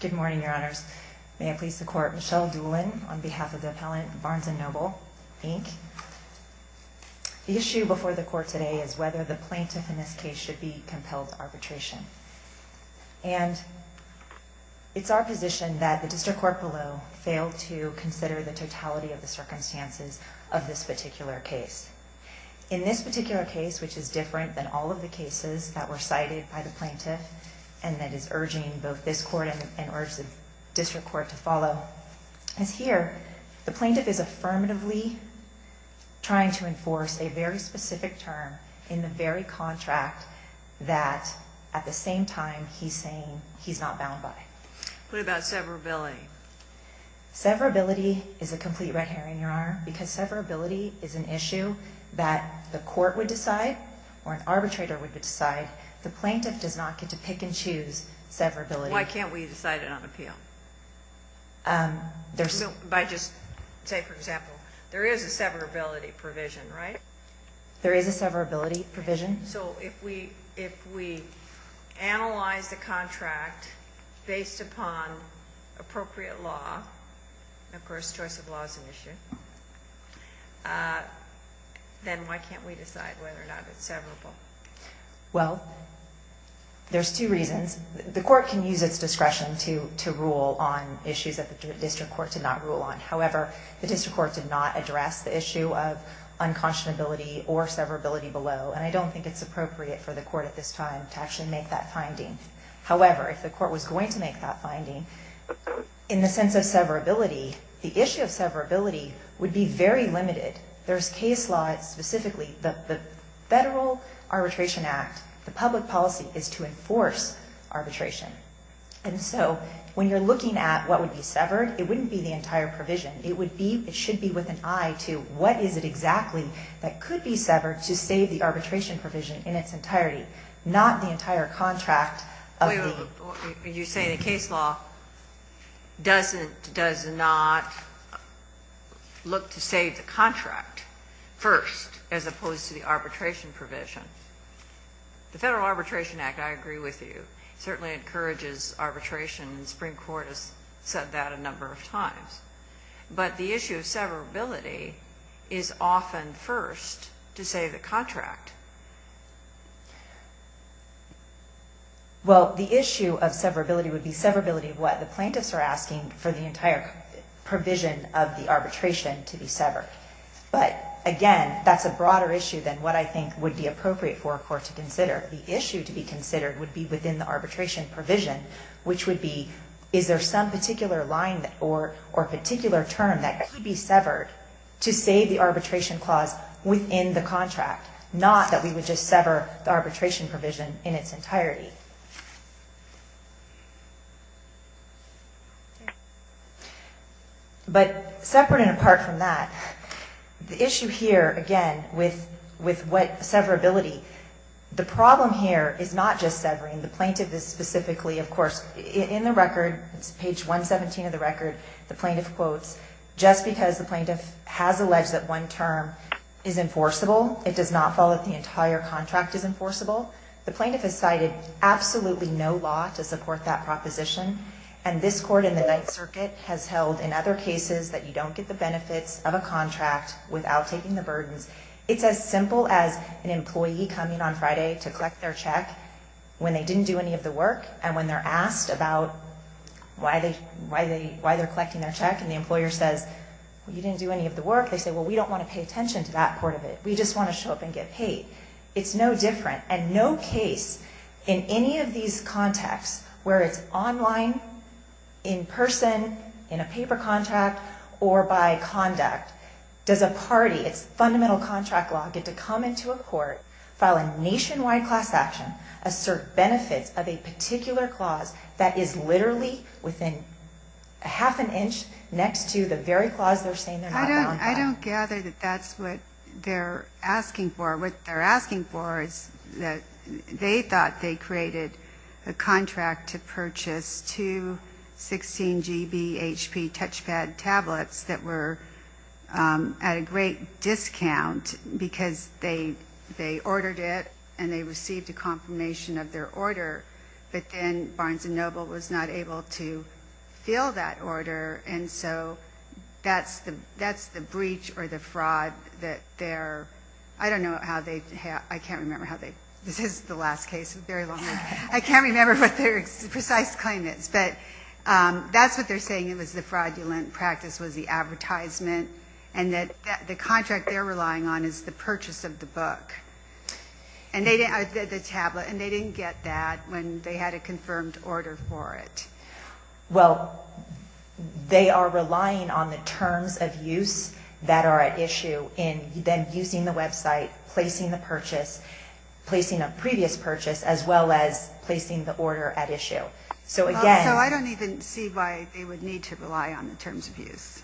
Good morning, Your Honors. May I please support Michelle Doolin on behalf of the appellant Barnes & Noble, Inc. The issue before the court today is whether the plaintiff in this case should be compelled to arbitration. And it's our position that the district court below failed to consider the totality of the circumstances of this particular case. In this particular case, which is different than all of the cases that were cited by the plaintiff, and that is urging both this court and the district court to follow. As here, the plaintiff is affirmatively trying to enforce a very specific term in the very contract that, at the same time, he's saying he's not bound by. What about severability? Severability is a complete red herring, Your Honor, because severability is an issue that the court would decide or an arbitrator would decide. The plaintiff does not get to pick and choose severability. Why can't we decide it on appeal? By just, say, for example, there is a severability provision, right? There is a severability provision. So if we analyze the contract based upon appropriate law, of course choice of law is an issue, then why can't we decide whether or not it's severable? Well, there's two reasons. The court can use its discretion to rule on issues that the district court did not rule on. However, the district court did not address the issue of unconscionability or severability below, and I don't think it's appropriate for the court at this time to actually make that finding. However, if the court was going to make that finding, in the sense of severability, the issue of severability would be very limited. There's case law specifically, the Federal Arbitration Act, the public policy is to enforce arbitration. And so when you're looking at what would be severed, it wouldn't be the entire provision. It would be, it should be with an eye to what is it exactly that could be severed to save the arbitration provision in its entirety, not the entire contract of the... First, as opposed to the arbitration provision. The Federal Arbitration Act, I agree with you, certainly encourages arbitration. The Supreme Court has said that a number of times. But the issue of severability is often first to save the contract. Well, the issue of severability would be severability of what the plaintiffs are asking for the entire provision of the arbitration to be severed. But, again, that's a broader issue than what I think would be appropriate for a court to consider. The issue to be considered would be within the arbitration provision, which would be, is there some particular line or particular term that could be severed to save the arbitration clause within the contract, not that we would just sever the arbitration provision in its entirety. But separate and apart from that, the issue here, again, with what severability, the problem here is not just severing. The plaintiff is specifically, of course, in the record, it's page 117 of the record, the plaintiff quotes, just because the plaintiff has alleged that one term is enforceable, it does not follow that the entire contract is enforceable. The plaintiff has cited absolutely no law to support that proposition. And this court in the Ninth Circuit has held in other cases that you don't get the benefits of a contract without taking the burdens. It's as simple as an employee coming on Friday to collect their check when they didn't do any of the work. And when they're asked about why they're collecting their check and the employer says, you didn't do any of the work, they say, well, we don't want to pay attention to that part of it. We just want to show up and get paid. It's no different. And no case in any of these contexts where it's online, in person, in a paper contract, or by conduct, does a party, it's fundamental contract law, get to come into a court, file a nationwide class action, assert benefits of a particular clause that is literally within half an inch next to the very clause they're saying they're not going to file. I don't gather that that's what they're asking for. What they're asking for is that they thought they created a contract to purchase two 16 GB HP touchpad tablets that were at a great discount because they ordered it and they received a confirmation of their order, but then Barnes & Noble was not able to fill that order. And so that's the breach or the fraud that they're, I don't know how they, I can't remember how they, this is the last case. It's a very long one. I can't remember what their precise claim is, but that's what they're saying. It was the fraudulent practice, was the advertisement, and that the contract they're relying on is the purchase of the book, the tablet. And they didn't get that when they had a confirmed order for it. Well, they are relying on the terms of use that are at issue in then using the website, placing the purchase, placing a previous purchase, as well as placing the order at issue. So again... So I don't even see why they would need to rely on the terms of use.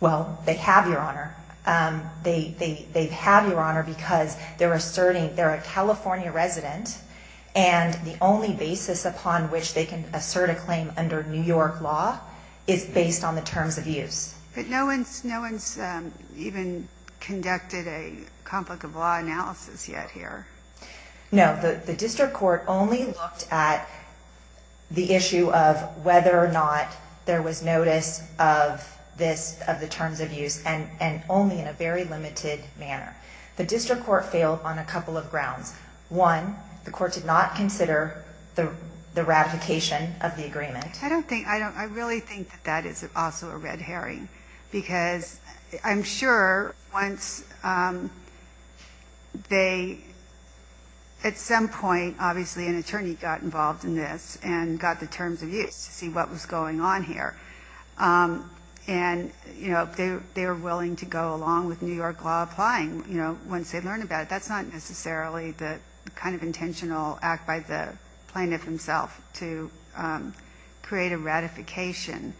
Well, they have, Your Honor. They have, Your Honor, because they're asserting they're a California resident and the only basis upon which they can assert a claim under New York law is based on the terms of use. But no one's even conducted a conflict of law analysis yet here. No. The district court only looked at the issue of whether or not there was notice of this, of the terms of use, and only in a very limited manner. The district court failed on a couple of grounds. One, the court did not consider the ratification of the agreement. I don't think, I really think that that is also a red herring. Because I'm sure once they, at some point, obviously an attorney got involved in this and got the terms of use to see what was going on here. And, you know, they were willing to go along with New York law applying, you know, once they learned about it. That's not necessarily the kind of intentional act by the plaintiff himself to create a ratification.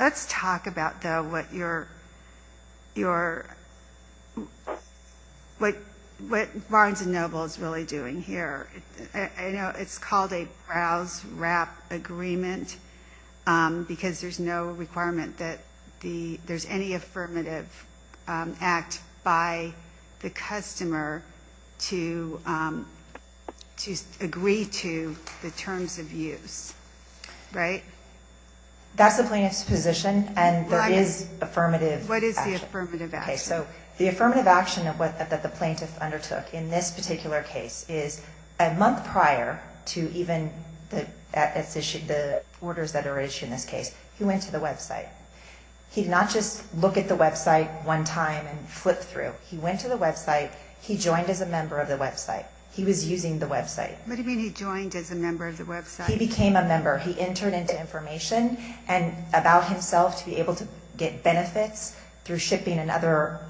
Let's talk about, though, what you're, what Barnes & Noble is really doing here. I know it's called a browse-wrap agreement because there's no requirement that there's any affirmative act by the customer to agree to the terms of use. Right? That's the plaintiff's position, and there is affirmative action. What is the affirmative action? Okay, so the affirmative action that the plaintiff undertook in this particular case is a month prior to even the orders that are issued in this case, he went to the website. He did not just look at the website one time and flip through. He went to the website. He joined as a member of the website. He was using the website. What do you mean he joined as a member of the website? He became a member. He interned into information about himself to be able to get benefits through shipping and other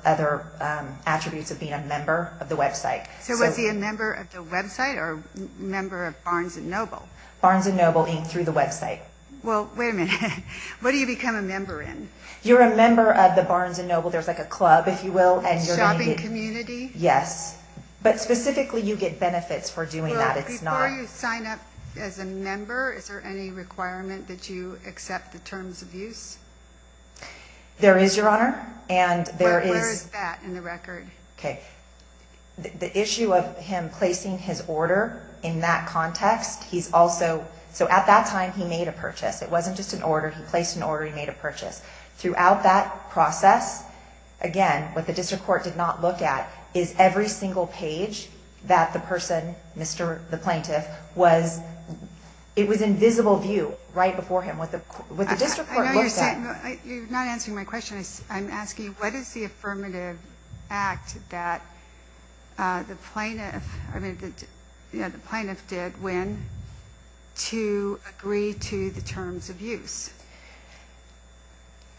attributes of being a member of the website. So was he a member of the website or a member of Barnes & Noble? Barnes & Noble through the website. Well, wait a minute. What do you become a member in? You're a member of the Barnes & Noble. There's like a club, if you will. A shopping community? Yes, but specifically you get benefits for doing that. It's not. Before you sign up as a member, is there any requirement that you accept the terms of use? There is, Your Honor. Where is that in the record? Okay. The issue of him placing his order in that context, he's also, so at that time he made a purchase. It wasn't just an order. He placed an order. He made a purchase. Throughout that process, again, what the district court did not look at is every single page that the person, Mr. The Plaintiff, was, it was in visible view right before him. What the district court looked at. You're not answering my question. I'm asking, what is the affirmative act that the Plaintiff, I mean, the Plaintiff did when to agree to the terms of use?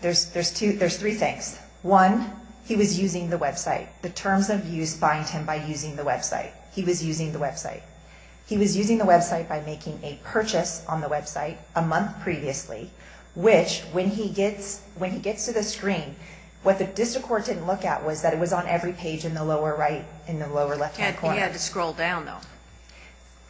There's three things. One, he was using the website. The terms of use bind him by using the website. He was using the website. He was using the website by making a purchase on the website a month previously, which when he gets to the screen, what the district court didn't look at was that it was on every page in the lower right, in the lower left-hand corner. He had to scroll down, though.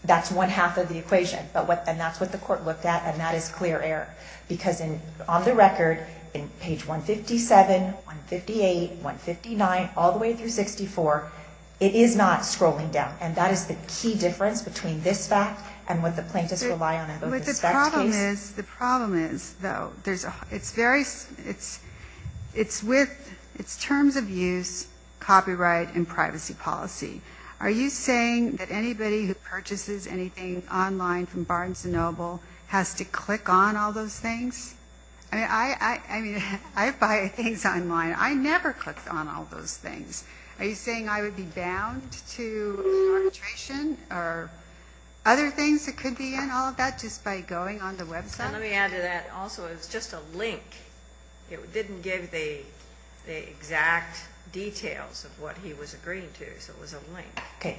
That's one half of the equation. And that's what the court looked at, and that is clear error. Because on the record, in page 157, 158, 159, all the way through 64, it is not scrolling down. And that is the key difference between this fact and what the Plaintiffs rely on in both respects. But the problem is, though, it's very, it's with, it's terms of use, copyright, and privacy policy. Are you saying that anybody who purchases anything online from Barnes & Noble has to click on all those things? I mean, I buy things online. I never clicked on all those things. Are you saying I would be bound to arbitration or other things that could be in all of that just by going on the website? And let me add to that also, it was just a link. It didn't give the exact details of what he was agreeing to, so it was a link. Okay.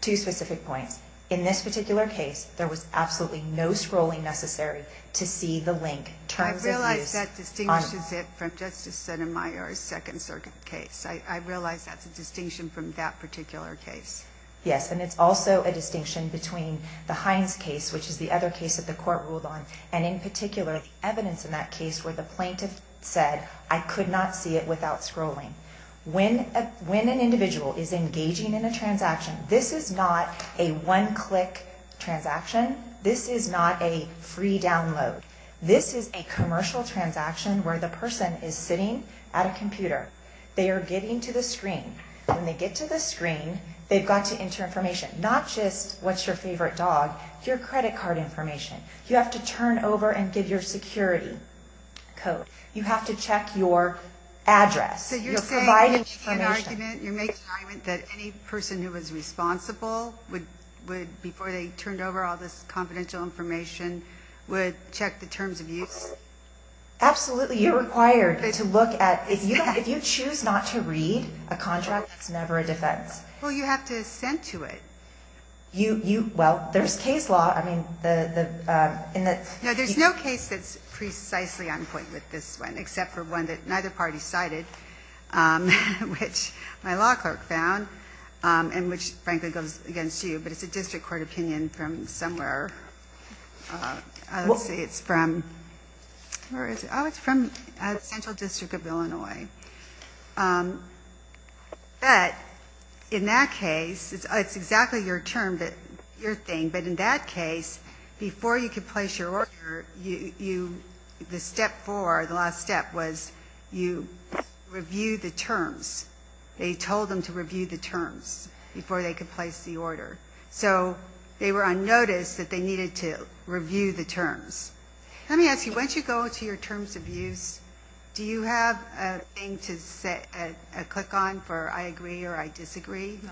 Two specific points. In this particular case, there was absolutely no scrolling necessary to see the link, terms of use. I realize that distinguishes it from Justice Sotomayor's second case. I realize that's a distinction from that particular case. Yes, and it's also a distinction between the Hines case, which is the other case that the Court ruled on, and in particular, the evidence in that case where the Plaintiff said, I could not see it without scrolling. When an individual is engaging in a transaction, this is not a one-click transaction. This is not a free download. This is a commercial transaction where the person is sitting at a computer. They are getting to the screen. When they get to the screen, they've got to enter information, not just what's your favorite dog, your credit card information. You have to turn over and give your security code. You have to check your address. You're providing information. So you're saying you're making an argument that any person who was responsible would, before they turned over all this confidential information, would check the terms of use? Absolutely. You're required to look at, if you choose not to read a contract, it's never a defense. Well, you have to ascend to it. Well, there's case law. No, there's no case that's precisely on point with this one, except for one that neither party cited, which my law clerk found and which, frankly, goes against you. But it's a district court opinion from somewhere. Let's see, it's from, where is it? Oh, it's from Central District of Illinois. But in that case, it's exactly your term, your thing, but in that case, before you could place your order, the step four, the last step, was you review the terms. They told them to review the terms before they could place the order. So they were on notice that they needed to review the terms. Let me ask you, once you go to your terms of use, do you have a thing to click on for I agree or I disagree? No.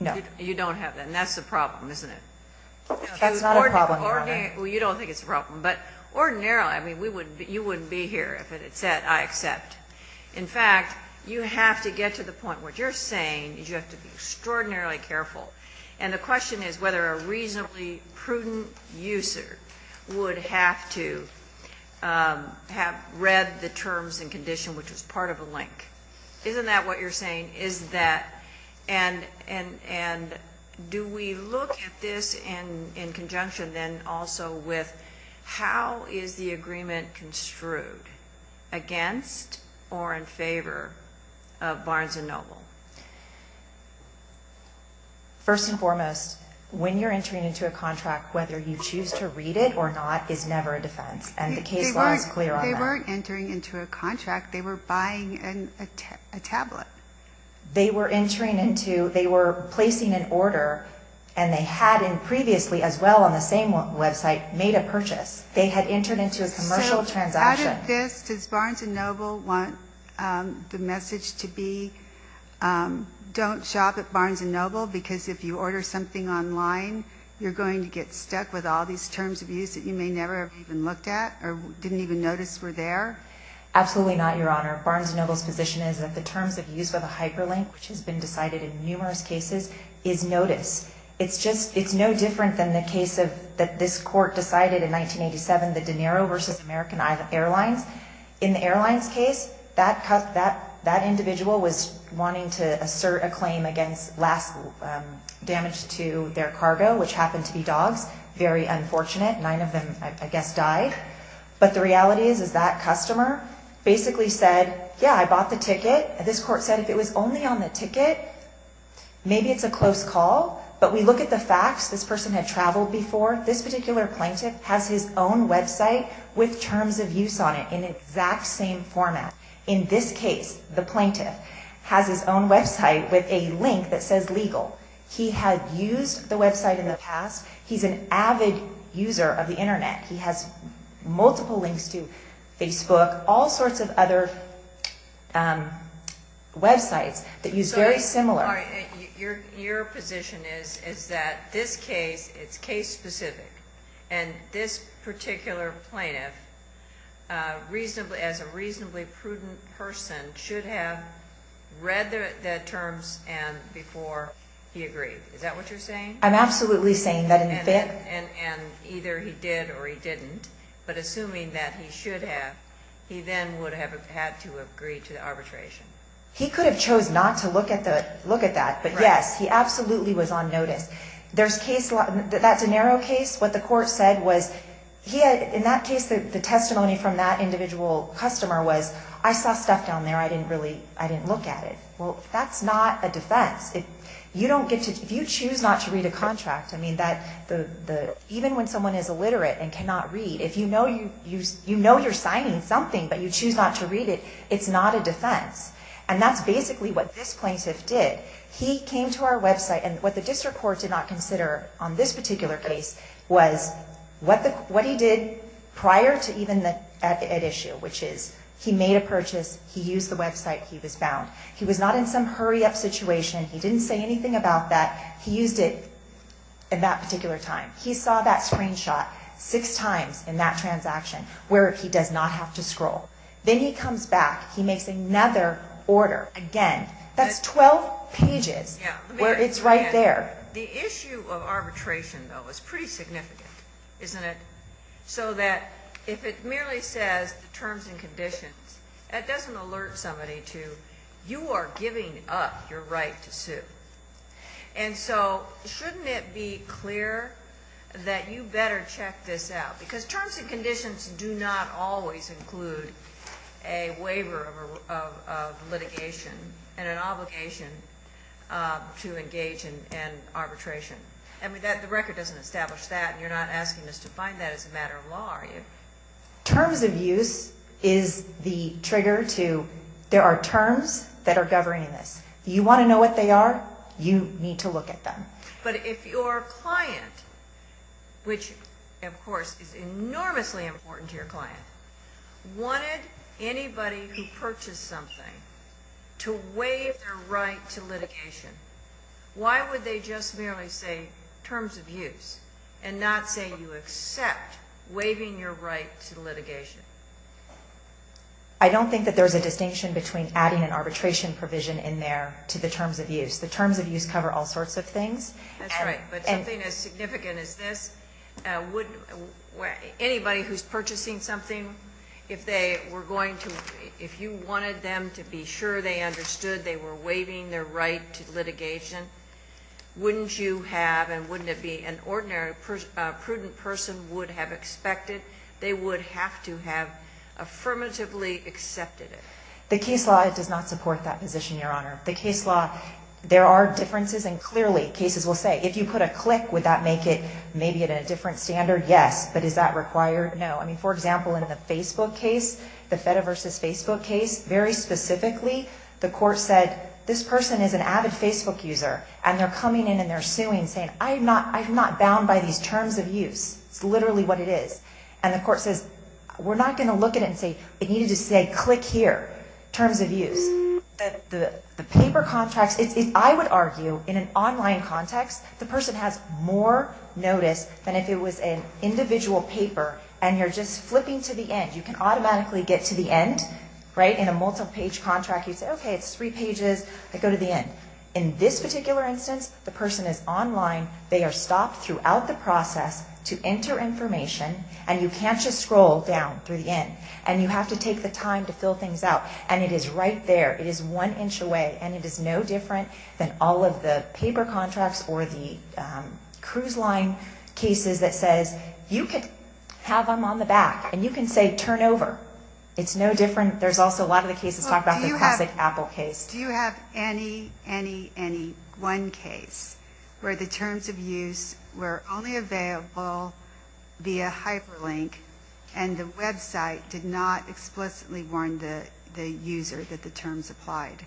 No. You don't have that, and that's the problem, isn't it? That's not a problem, Your Honor. Well, you don't think it's a problem, but ordinarily, I mean, you wouldn't be here if it said I accept. In fact, you have to get to the point. What you're saying is you have to be extraordinarily careful, and the question is whether a reasonably prudent user would have to have read the terms and condition, which was part of a link. Isn't that what you're saying? And do we look at this in conjunction then also with how is the agreement construed, against or in favor of Barnes & Noble? First and foremost, when you're entering into a contract, whether you choose to read it or not is never a defense, and the case law is clear on that. They weren't entering into a contract. They were buying a tablet. They were entering into, they were placing an order, and they had previously as well on the same website made a purchase. They had entered into a commercial transaction. So out of this, does Barnes & Noble want the message to be don't shop at Barnes & Noble because if you order something online, you're going to get stuck with all these terms of use that you may never have even looked at or didn't even notice were there? Absolutely not, Your Honor. Barnes & Noble's position is that the terms of use of a hyperlink, which has been decided in numerous cases, is noticed. It's just it's no different than the case that this court decided in 1987, the De Niro versus American Airlines. In the airlines case, that individual was wanting to assert a claim against last damage to their cargo, which happened to be dogs. Very unfortunate. Nine of them, I guess, died. But the reality is that customer basically said, yeah, I bought the ticket. This court said if it was only on the ticket, maybe it's a close call. But we look at the facts. This person had traveled before. This particular plaintiff has his own website with terms of use on it in the exact same format. In this case, the plaintiff has his own website with a link that says legal. He had used the website in the past. He's an avid user of the Internet. He has multiple links to Facebook, all sorts of other websites that use very similar. Your position is that this case, it's case specific, and this particular plaintiff, as a reasonably prudent person, should have read the terms before he agreed. Is that what you're saying? I'm absolutely saying that. And either he did or he didn't. But assuming that he should have, he then would have had to agree to the arbitration. He could have chose not to look at that. But, yes, he absolutely was on notice. That's a narrow case. What the court said was, in that case, the testimony from that individual customer was, I saw stuff down there. I didn't look at it. Well, that's not a defense. If you choose not to read a contract, even when someone is illiterate and cannot read, if you know you're signing something but you choose not to read it, it's not a defense. And that's basically what this plaintiff did. He came to our website, and what the district court did not consider on this particular case was what he did prior to even that issue, which is he made a purchase, he used the website, he was bound. He was not in some hurry-up situation. He didn't say anything about that. He used it in that particular time. He saw that screenshot six times in that transaction where he does not have to scroll. Then he comes back. He makes another order again. That's 12 pages where it's right there. The issue of arbitration, though, is pretty significant, isn't it? So that if it merely says the terms and conditions, that doesn't alert somebody to, you are giving up your right to sue. And so shouldn't it be clear that you better check this out? Because terms and conditions do not always include a waiver of litigation and an obligation to engage in arbitration. And the record doesn't establish that, and you're not asking us to find that as a matter of law, are you? Terms of use is the trigger to there are terms that are governing this. You want to know what they are? You need to look at them. But if your client, which, of course, is enormously important to your client, wanted anybody who purchased something to waive their right to litigation, why would they just merely say terms of use and not say you accept waiving your right to litigation? I don't think that there's a distinction between adding an arbitration provision in there to the terms of use. The terms of use cover all sorts of things. That's right. But something as significant as this, anybody who's purchasing something, if you wanted them to be sure they understood they were waiving their right to litigation, wouldn't you have and wouldn't it be an ordinary prudent person would have expected? They would have to have affirmatively accepted it. The case law does not support that position, Your Honor. The case law, there are differences, and clearly, cases will say, if you put a click, would that make it maybe at a different standard? Yes. But is that required? No. I mean, for example, in the Facebook case, the FEDA versus Facebook case, very specifically, the court said, this person is an avid Facebook user, and they're coming in and they're suing, saying, I'm not bound by these terms of use. It's literally what it is. And the court says, we're not going to look at it and say, it needed to say click here, terms of use. The paper contracts, I would argue, in an online context, the person has more notice than if it was an individual paper, and you're just flipping to the end. You can automatically get to the end, right, in a multi-page contract. You say, okay, it's three pages. I go to the end. In this particular instance, the person is online. They are stopped throughout the process to enter information, and you can't just scroll down through the end, and you have to take the time to fill things out. And it is right there. It is one inch away, and it is no different than all of the paper contracts or the cruise line cases that says, you could have them on the back, and you can say, turn over. It's no different. There's also a lot of the cases talk about the classic Apple case. Do you have any, any, any one case where the terms of use were only available via hyperlink and the website did not explicitly warn the user that the terms applied?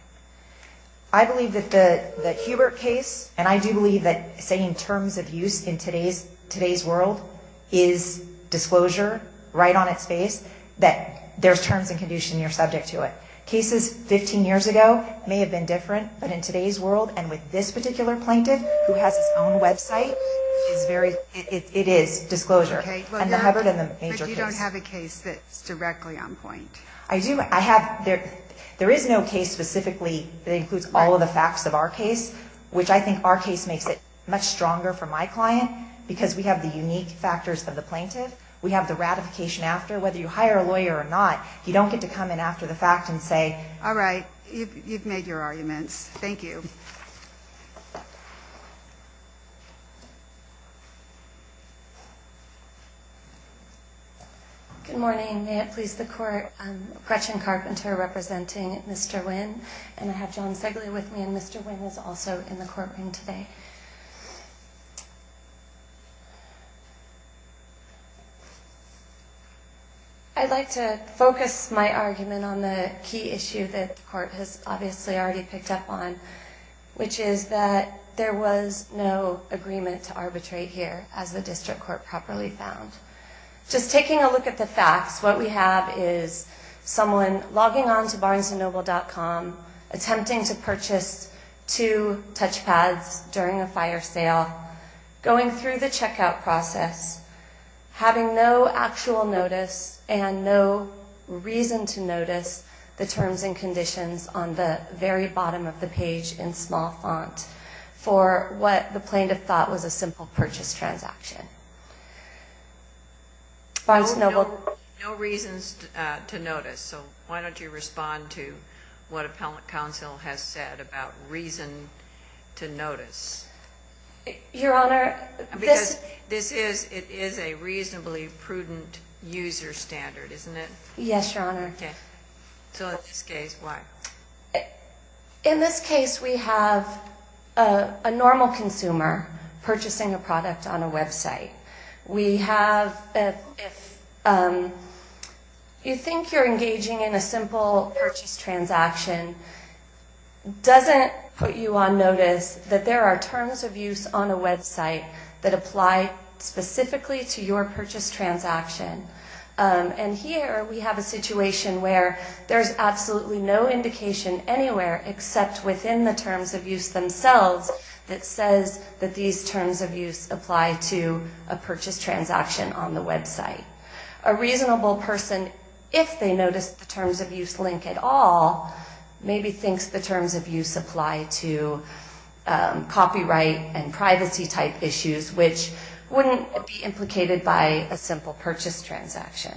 I believe that the Hubert case, and I do believe that saying terms of use in today's world is disclosure right on its face, that there's terms of use and you're subject to it. Cases 15 years ago may have been different, but in today's world, and with this particular plaintiff who has his own website, it is disclosure. And the Hubert and the major case. But you don't have a case that's directly on point. I do. I have. There is no case specifically that includes all of the facts of our case, which I think our case makes it much stronger for my client, because we have the unique factors of the plaintiff. We have the ratification after. Whether you hire a lawyer or not, you don't get to come in after the fact and say, all right, you've made your arguments. Thank you. Good morning. May it please the Court. Gretchen Carpenter representing Mr. Wynn. And I have John Segley with me. And Mr. Wynn is also in the courtroom today. I'd like to focus my argument on the key issue that the Court has obviously already picked up on, which is that there was no agreement to arbitrate here, as the District Court properly found. Just taking a look at the facts, what we have is someone logging on to BarnesandNoble.com, attempting to purchase two touchpads during a fire sale, going through the checkout process, having no actual notice and no reason to notice the terms and conditions on the very bottom of the page in small font for what the plaintiff thought was a simple purchase transaction. Barnes and Noble. No reasons to notice. So why don't you respond to what Appellate Counsel has said about reason to notice? Your Honor, this. Because this is, it is a reasonably prudent user standard, isn't it? Yes, Your Honor. Okay. So in this case, why? In this case, we have a normal consumer purchasing a product on a website. We have, if you think you're engaging in a simple purchase transaction, doesn't put you on notice that there are terms of use on a website that apply specifically to your purchase transaction. And here we have a situation where there's absolutely no indication anywhere except within the terms of use themselves that says that these terms of use apply to a purchase transaction on the website. A reasonable person, if they notice the terms of use link at all, maybe thinks the terms of use apply to copyright and privacy type issues, which wouldn't be implicated by a simple purchase transaction.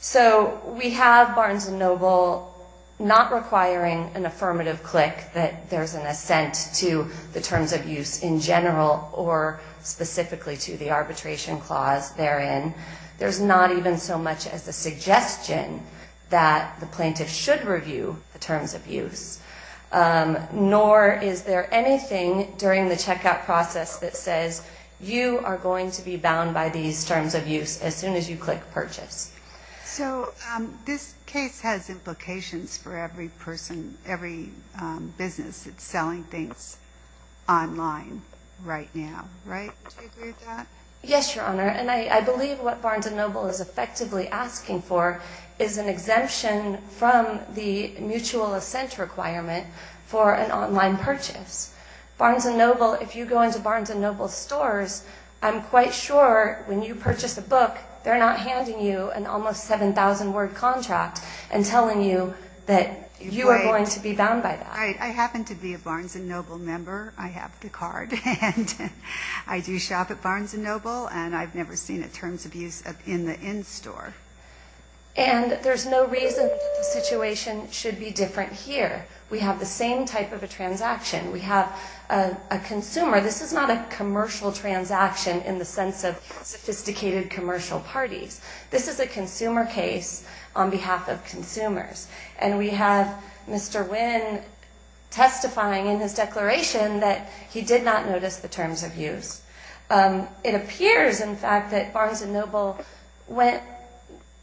So we have Barnes & Noble not requiring an affirmative click that there's an assent to the terms of use in general or specifically to the arbitration clause therein. There's not even so much as a suggestion that the plaintiff should review the terms of use, nor is there anything during the checkout process that says you are going to be So this case has implications for every person, every business that's selling things online right now, right? Do you agree with that? Yes, Your Honor. And I believe what Barnes & Noble is effectively asking for is an exemption from the mutual assent requirement for an online purchase. Barnes & Noble, if you go into Barnes & Noble stores, I'm quite sure when you purchase a book, they're not handing you an almost 7,000-word contract and telling you that you are going to be bound by that. I happen to be a Barnes & Noble member. I have the card, and I do shop at Barnes & Noble, and I've never seen a terms of use in the in-store. And there's no reason the situation should be different here. We have the same type of a transaction. We have a consumer. This is not a commercial transaction in the sense of sophisticated commercial parties. This is a consumer case on behalf of consumers. And we have Mr. Wynn testifying in his declaration that he did not notice the terms of use. It appears, in fact, that Barnes & Noble went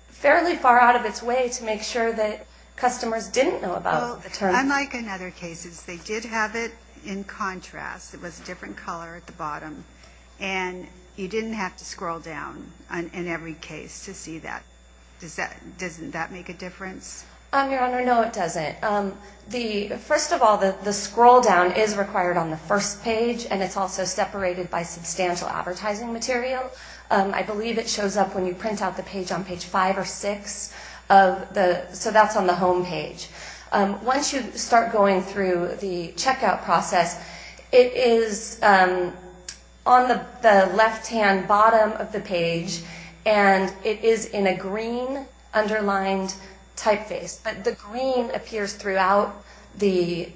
fairly far out of its way to make sure that customers didn't know about the terms. Unlike in other cases, they did have it in contrast. It was a different color at the bottom, and you didn't have to scroll down in every case to see that. Doesn't that make a difference? Your Honor, no, it doesn't. First of all, the scroll down is required on the first page, and it's also separated by substantial advertising material. I believe it shows up when you print out the page on page five or six, so that's on the home page. Once you start going through the checkout process, it is on the left-hand bottom of the page, and it is in a green underlined typeface. But the green appears throughout the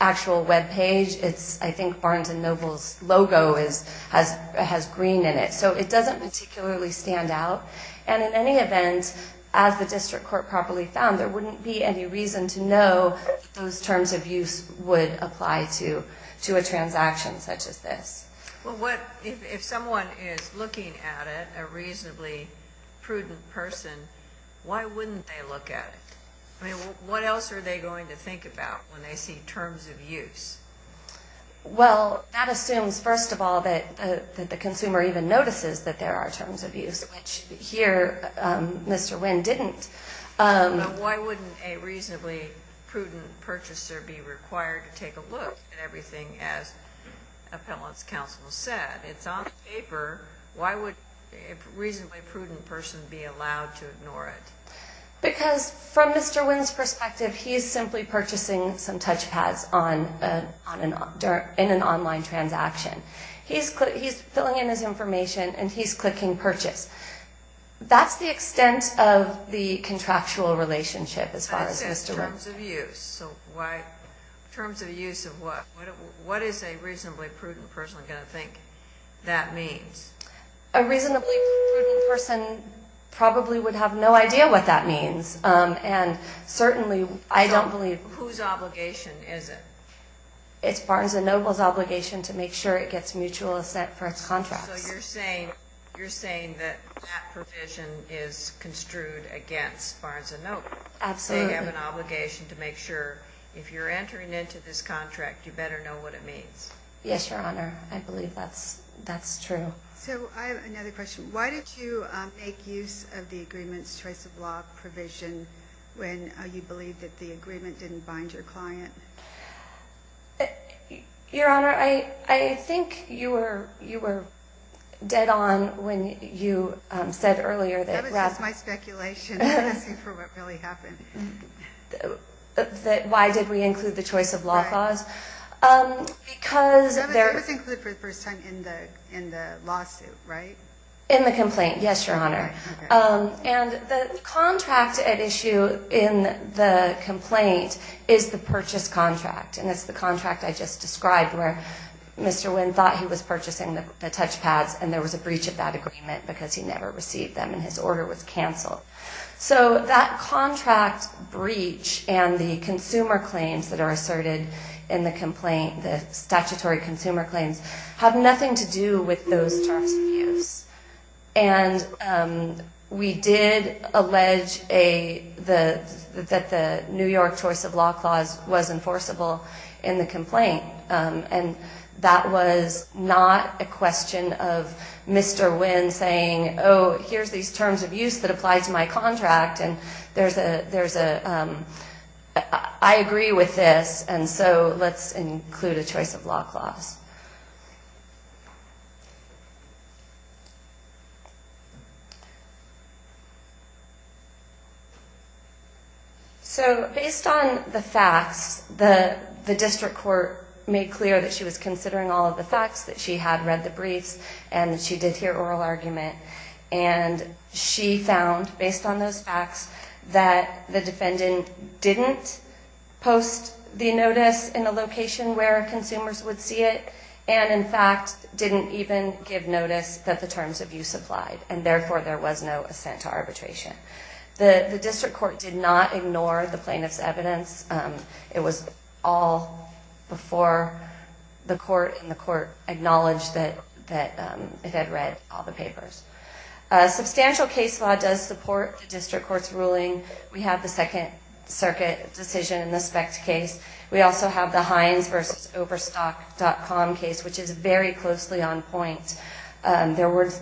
actual web page. I think Barnes & Noble's logo has green in it, so it doesn't particularly stand out. And in any event, as the district court properly found, there wouldn't be any reason to know those terms of use would apply to a transaction such as this. Well, if someone is looking at it, a reasonably prudent person, why wouldn't they look at it? I mean, what else are they going to think about when they see terms of use? Well, that assumes, first of all, that the consumer even notices that there are terms of use, which here Mr. Wynn didn't. Why wouldn't a reasonably prudent purchaser be required to take a look at everything as appellant's counsel said? It's on paper. Why would a reasonably prudent person be allowed to ignore it? Because from Mr. Wynn's perspective, he's simply purchasing some touchpads in an online transaction. He's filling in his information, and he's clicking purchase. That's the extent of the contractual relationship as far as Mr. Wynn. I said terms of use. So terms of use of what? What is a reasonably prudent person going to think that means? A reasonably prudent person probably would have no idea what that means, and certainly I don't believe that. Whose obligation is it? It's Barnes & Noble's obligation to make sure it gets mutual assent for its contracts. So you're saying that that provision is construed against Barnes & Noble. Absolutely. They have an obligation to make sure if you're entering into this contract, you better know what it means. Yes, Your Honor. I believe that's true. So I have another question. Why did you make use of the agreement's choice of law provision when you believed that the agreement didn't bind your client? Your Honor, I think you were dead on when you said earlier that. That was just my speculation. I'm asking for what really happened. Why did we include the choice of law clause? Because. That was included for the first time in the lawsuit, right? In the complaint, yes, Your Honor. And the contract at issue in the complaint is the purchase contract, and it's the contract I just described where Mr. Wynn thought he was purchasing the touch pads, and there was a breach of that agreement because he never received them and his order was canceled. So that contract breach and the consumer claims that are asserted in the complaint, the statutory consumer claims, have nothing to do with those terms of use. And we did allege that the New York choice of law clause was enforceable in the complaint, and that was not a question of Mr. Wynn saying, oh, here's these terms of use that apply to my contract, and there's a – I agree with this, and so let's include a choice of law clause. So based on the facts, the district court made clear that she was considering all of the facts, that she had read the briefs, and that she did hear oral argument. And she found, based on those facts, that the defendant didn't post the notice in the location where consumers would see it and, in fact, didn't even give notice that the terms of use applied, and therefore there was no assent to arbitration. The district court did not ignore the plaintiff's evidence. It was all before the court, and the court acknowledged that it had read all the papers. Substantial case law does support the district court's ruling. We have the Second Circuit decision in the SPECT case. We also have the Heinz versus Overstock.com case, which is very closely on point. The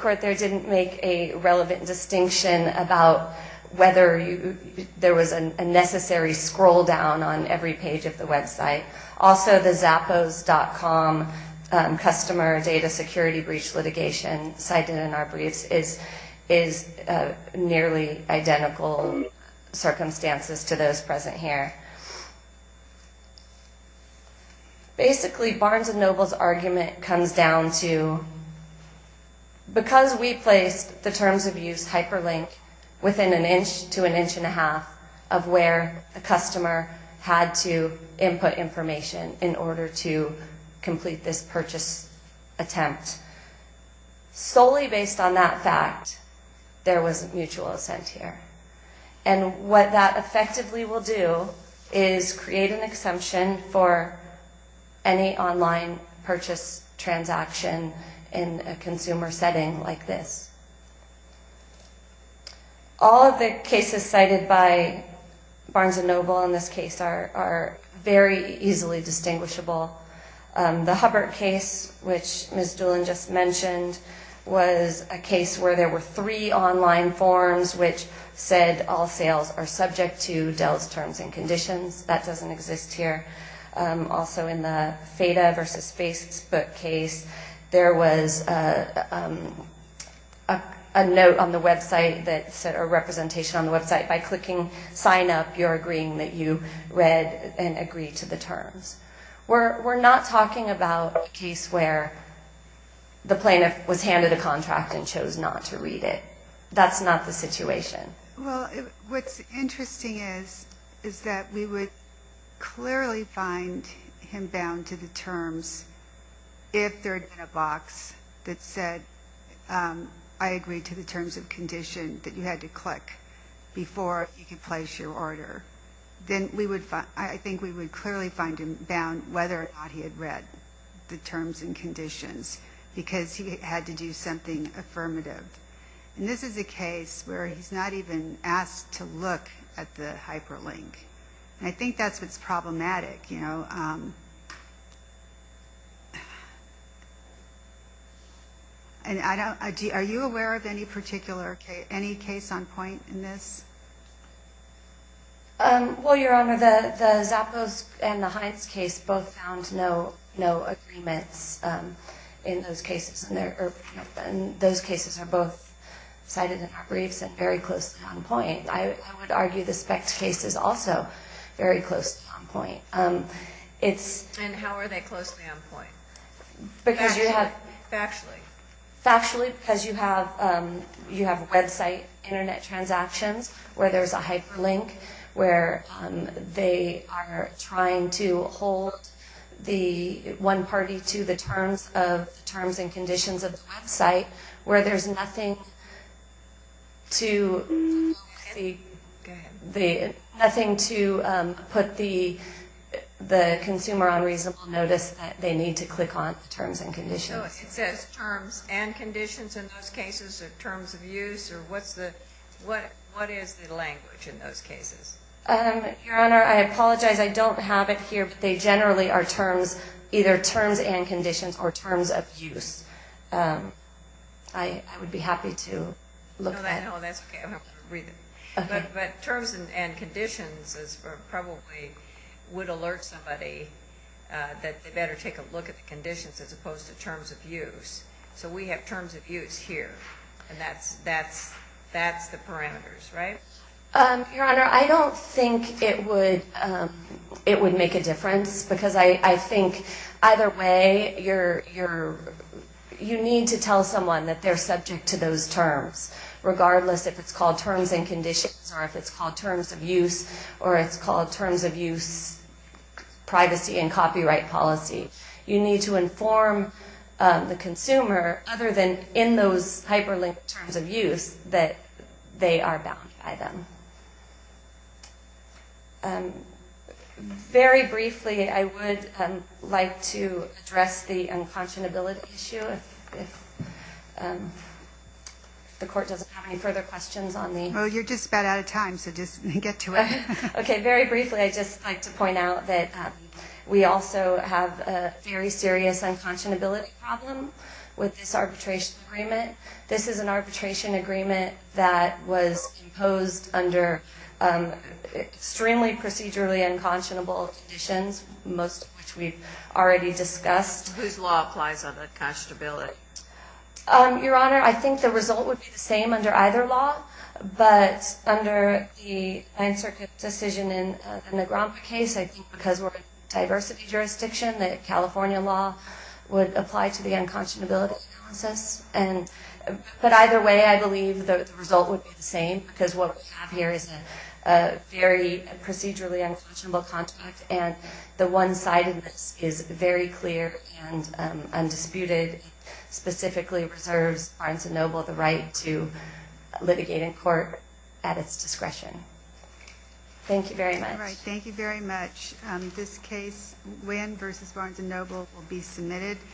court there didn't make a relevant distinction about whether there was a necessary scroll down on every page of the website. Also, the Zappos.com customer data security breach litigation cited in our circumstances to those present here. Basically, Barnes & Noble's argument comes down to because we placed the terms of use hyperlink within an inch to an inch and a half of where the customer had to input information in order to complete this purchase attempt, solely based on that fact, there was mutual assent here. And what that effectively will do is create an exemption for any online purchase transaction in a consumer setting like this. All of the cases cited by Barnes & Noble in this case are very easily distinguishable. The Hubbard case, which Ms. Doolin just mentioned, was a case where there were three online forms which said all sales are subject to Dell's terms and conditions. That doesn't exist here. Also, in the FEDA versus Facebook case, there was a note on the website that said a representation on the website. By clicking sign up, you're agreeing that you read and agree to the terms. We're not talking about a case where the plaintiff was handed a contract and chose not to read it. That's not the situation. Well, what's interesting is that we would clearly find him bound to the terms if there had been a box that said I agree to the terms of condition that you had to click before you could place your order. I think we would clearly find him bound whether or not he had read the terms and conditions because he had to do something affirmative. This is a case where he's not even asked to look at the hyperlink. Are you aware of any particular case, any case on point in this? Well, Your Honor, the Zappos and the Hines case both found no agreements in those cases. Those cases are both cited in our briefs and very closely on point. I would argue the Spect case is also very closely on point. And how are they closely on point? Factually. Factually because you have website Internet transactions where there's a hyperlink where they are trying to hold the one party to the terms and conditions of the website where there's nothing to put the consumer on reasonable notice that they need to click on the terms and conditions. So it says terms and conditions in those cases or terms of use or what is the language in those cases? Your Honor, I apologize. I don't have it here, but they generally are terms, either terms and conditions or terms of use. I would be happy to look at it. No, that's okay. I'm going to read it. But terms and conditions probably would alert somebody that they better take a look at the conditions as opposed to terms of use. So we have terms of use here, and that's the parameters, right? Your Honor, I don't think it would make a difference because I think either way you need to tell someone that they're subject to those terms regardless if it's called terms and conditions or if it's called terms of use or it's called terms of use privacy and copyright policy. You need to inform the consumer other than in those hyperlinked terms of use that they are bound by them. Very briefly, I would like to address the unconscionability issue. If the Court doesn't have any further questions on the... Well, you're just about out of time, so just get to it. Okay. Very briefly, I'd just like to point out that we also have a very serious unconscionability problem with this arbitration agreement. This is an arbitration agreement that was imposed under extremely procedurally unconscionable conditions, most of which we've already discussed. Whose law applies on unconscionability? Your Honor, I think the result would be the same under either law, but under the Ninth Circuit decision in the Negrompa case, I think because we're a diversity jurisdiction, the California law would apply to the unconscionability analysis. But either way, I believe the result would be the same because what we have here is a very procedurally unconscionable contract, and the one-sidedness is very clear and undisputed. It specifically preserves Barnes & Noble the right to litigate in court at its discretion. Thank you very much. All right. Thank you very much. This case, Winn v. Barnes & Noble, will be submitted.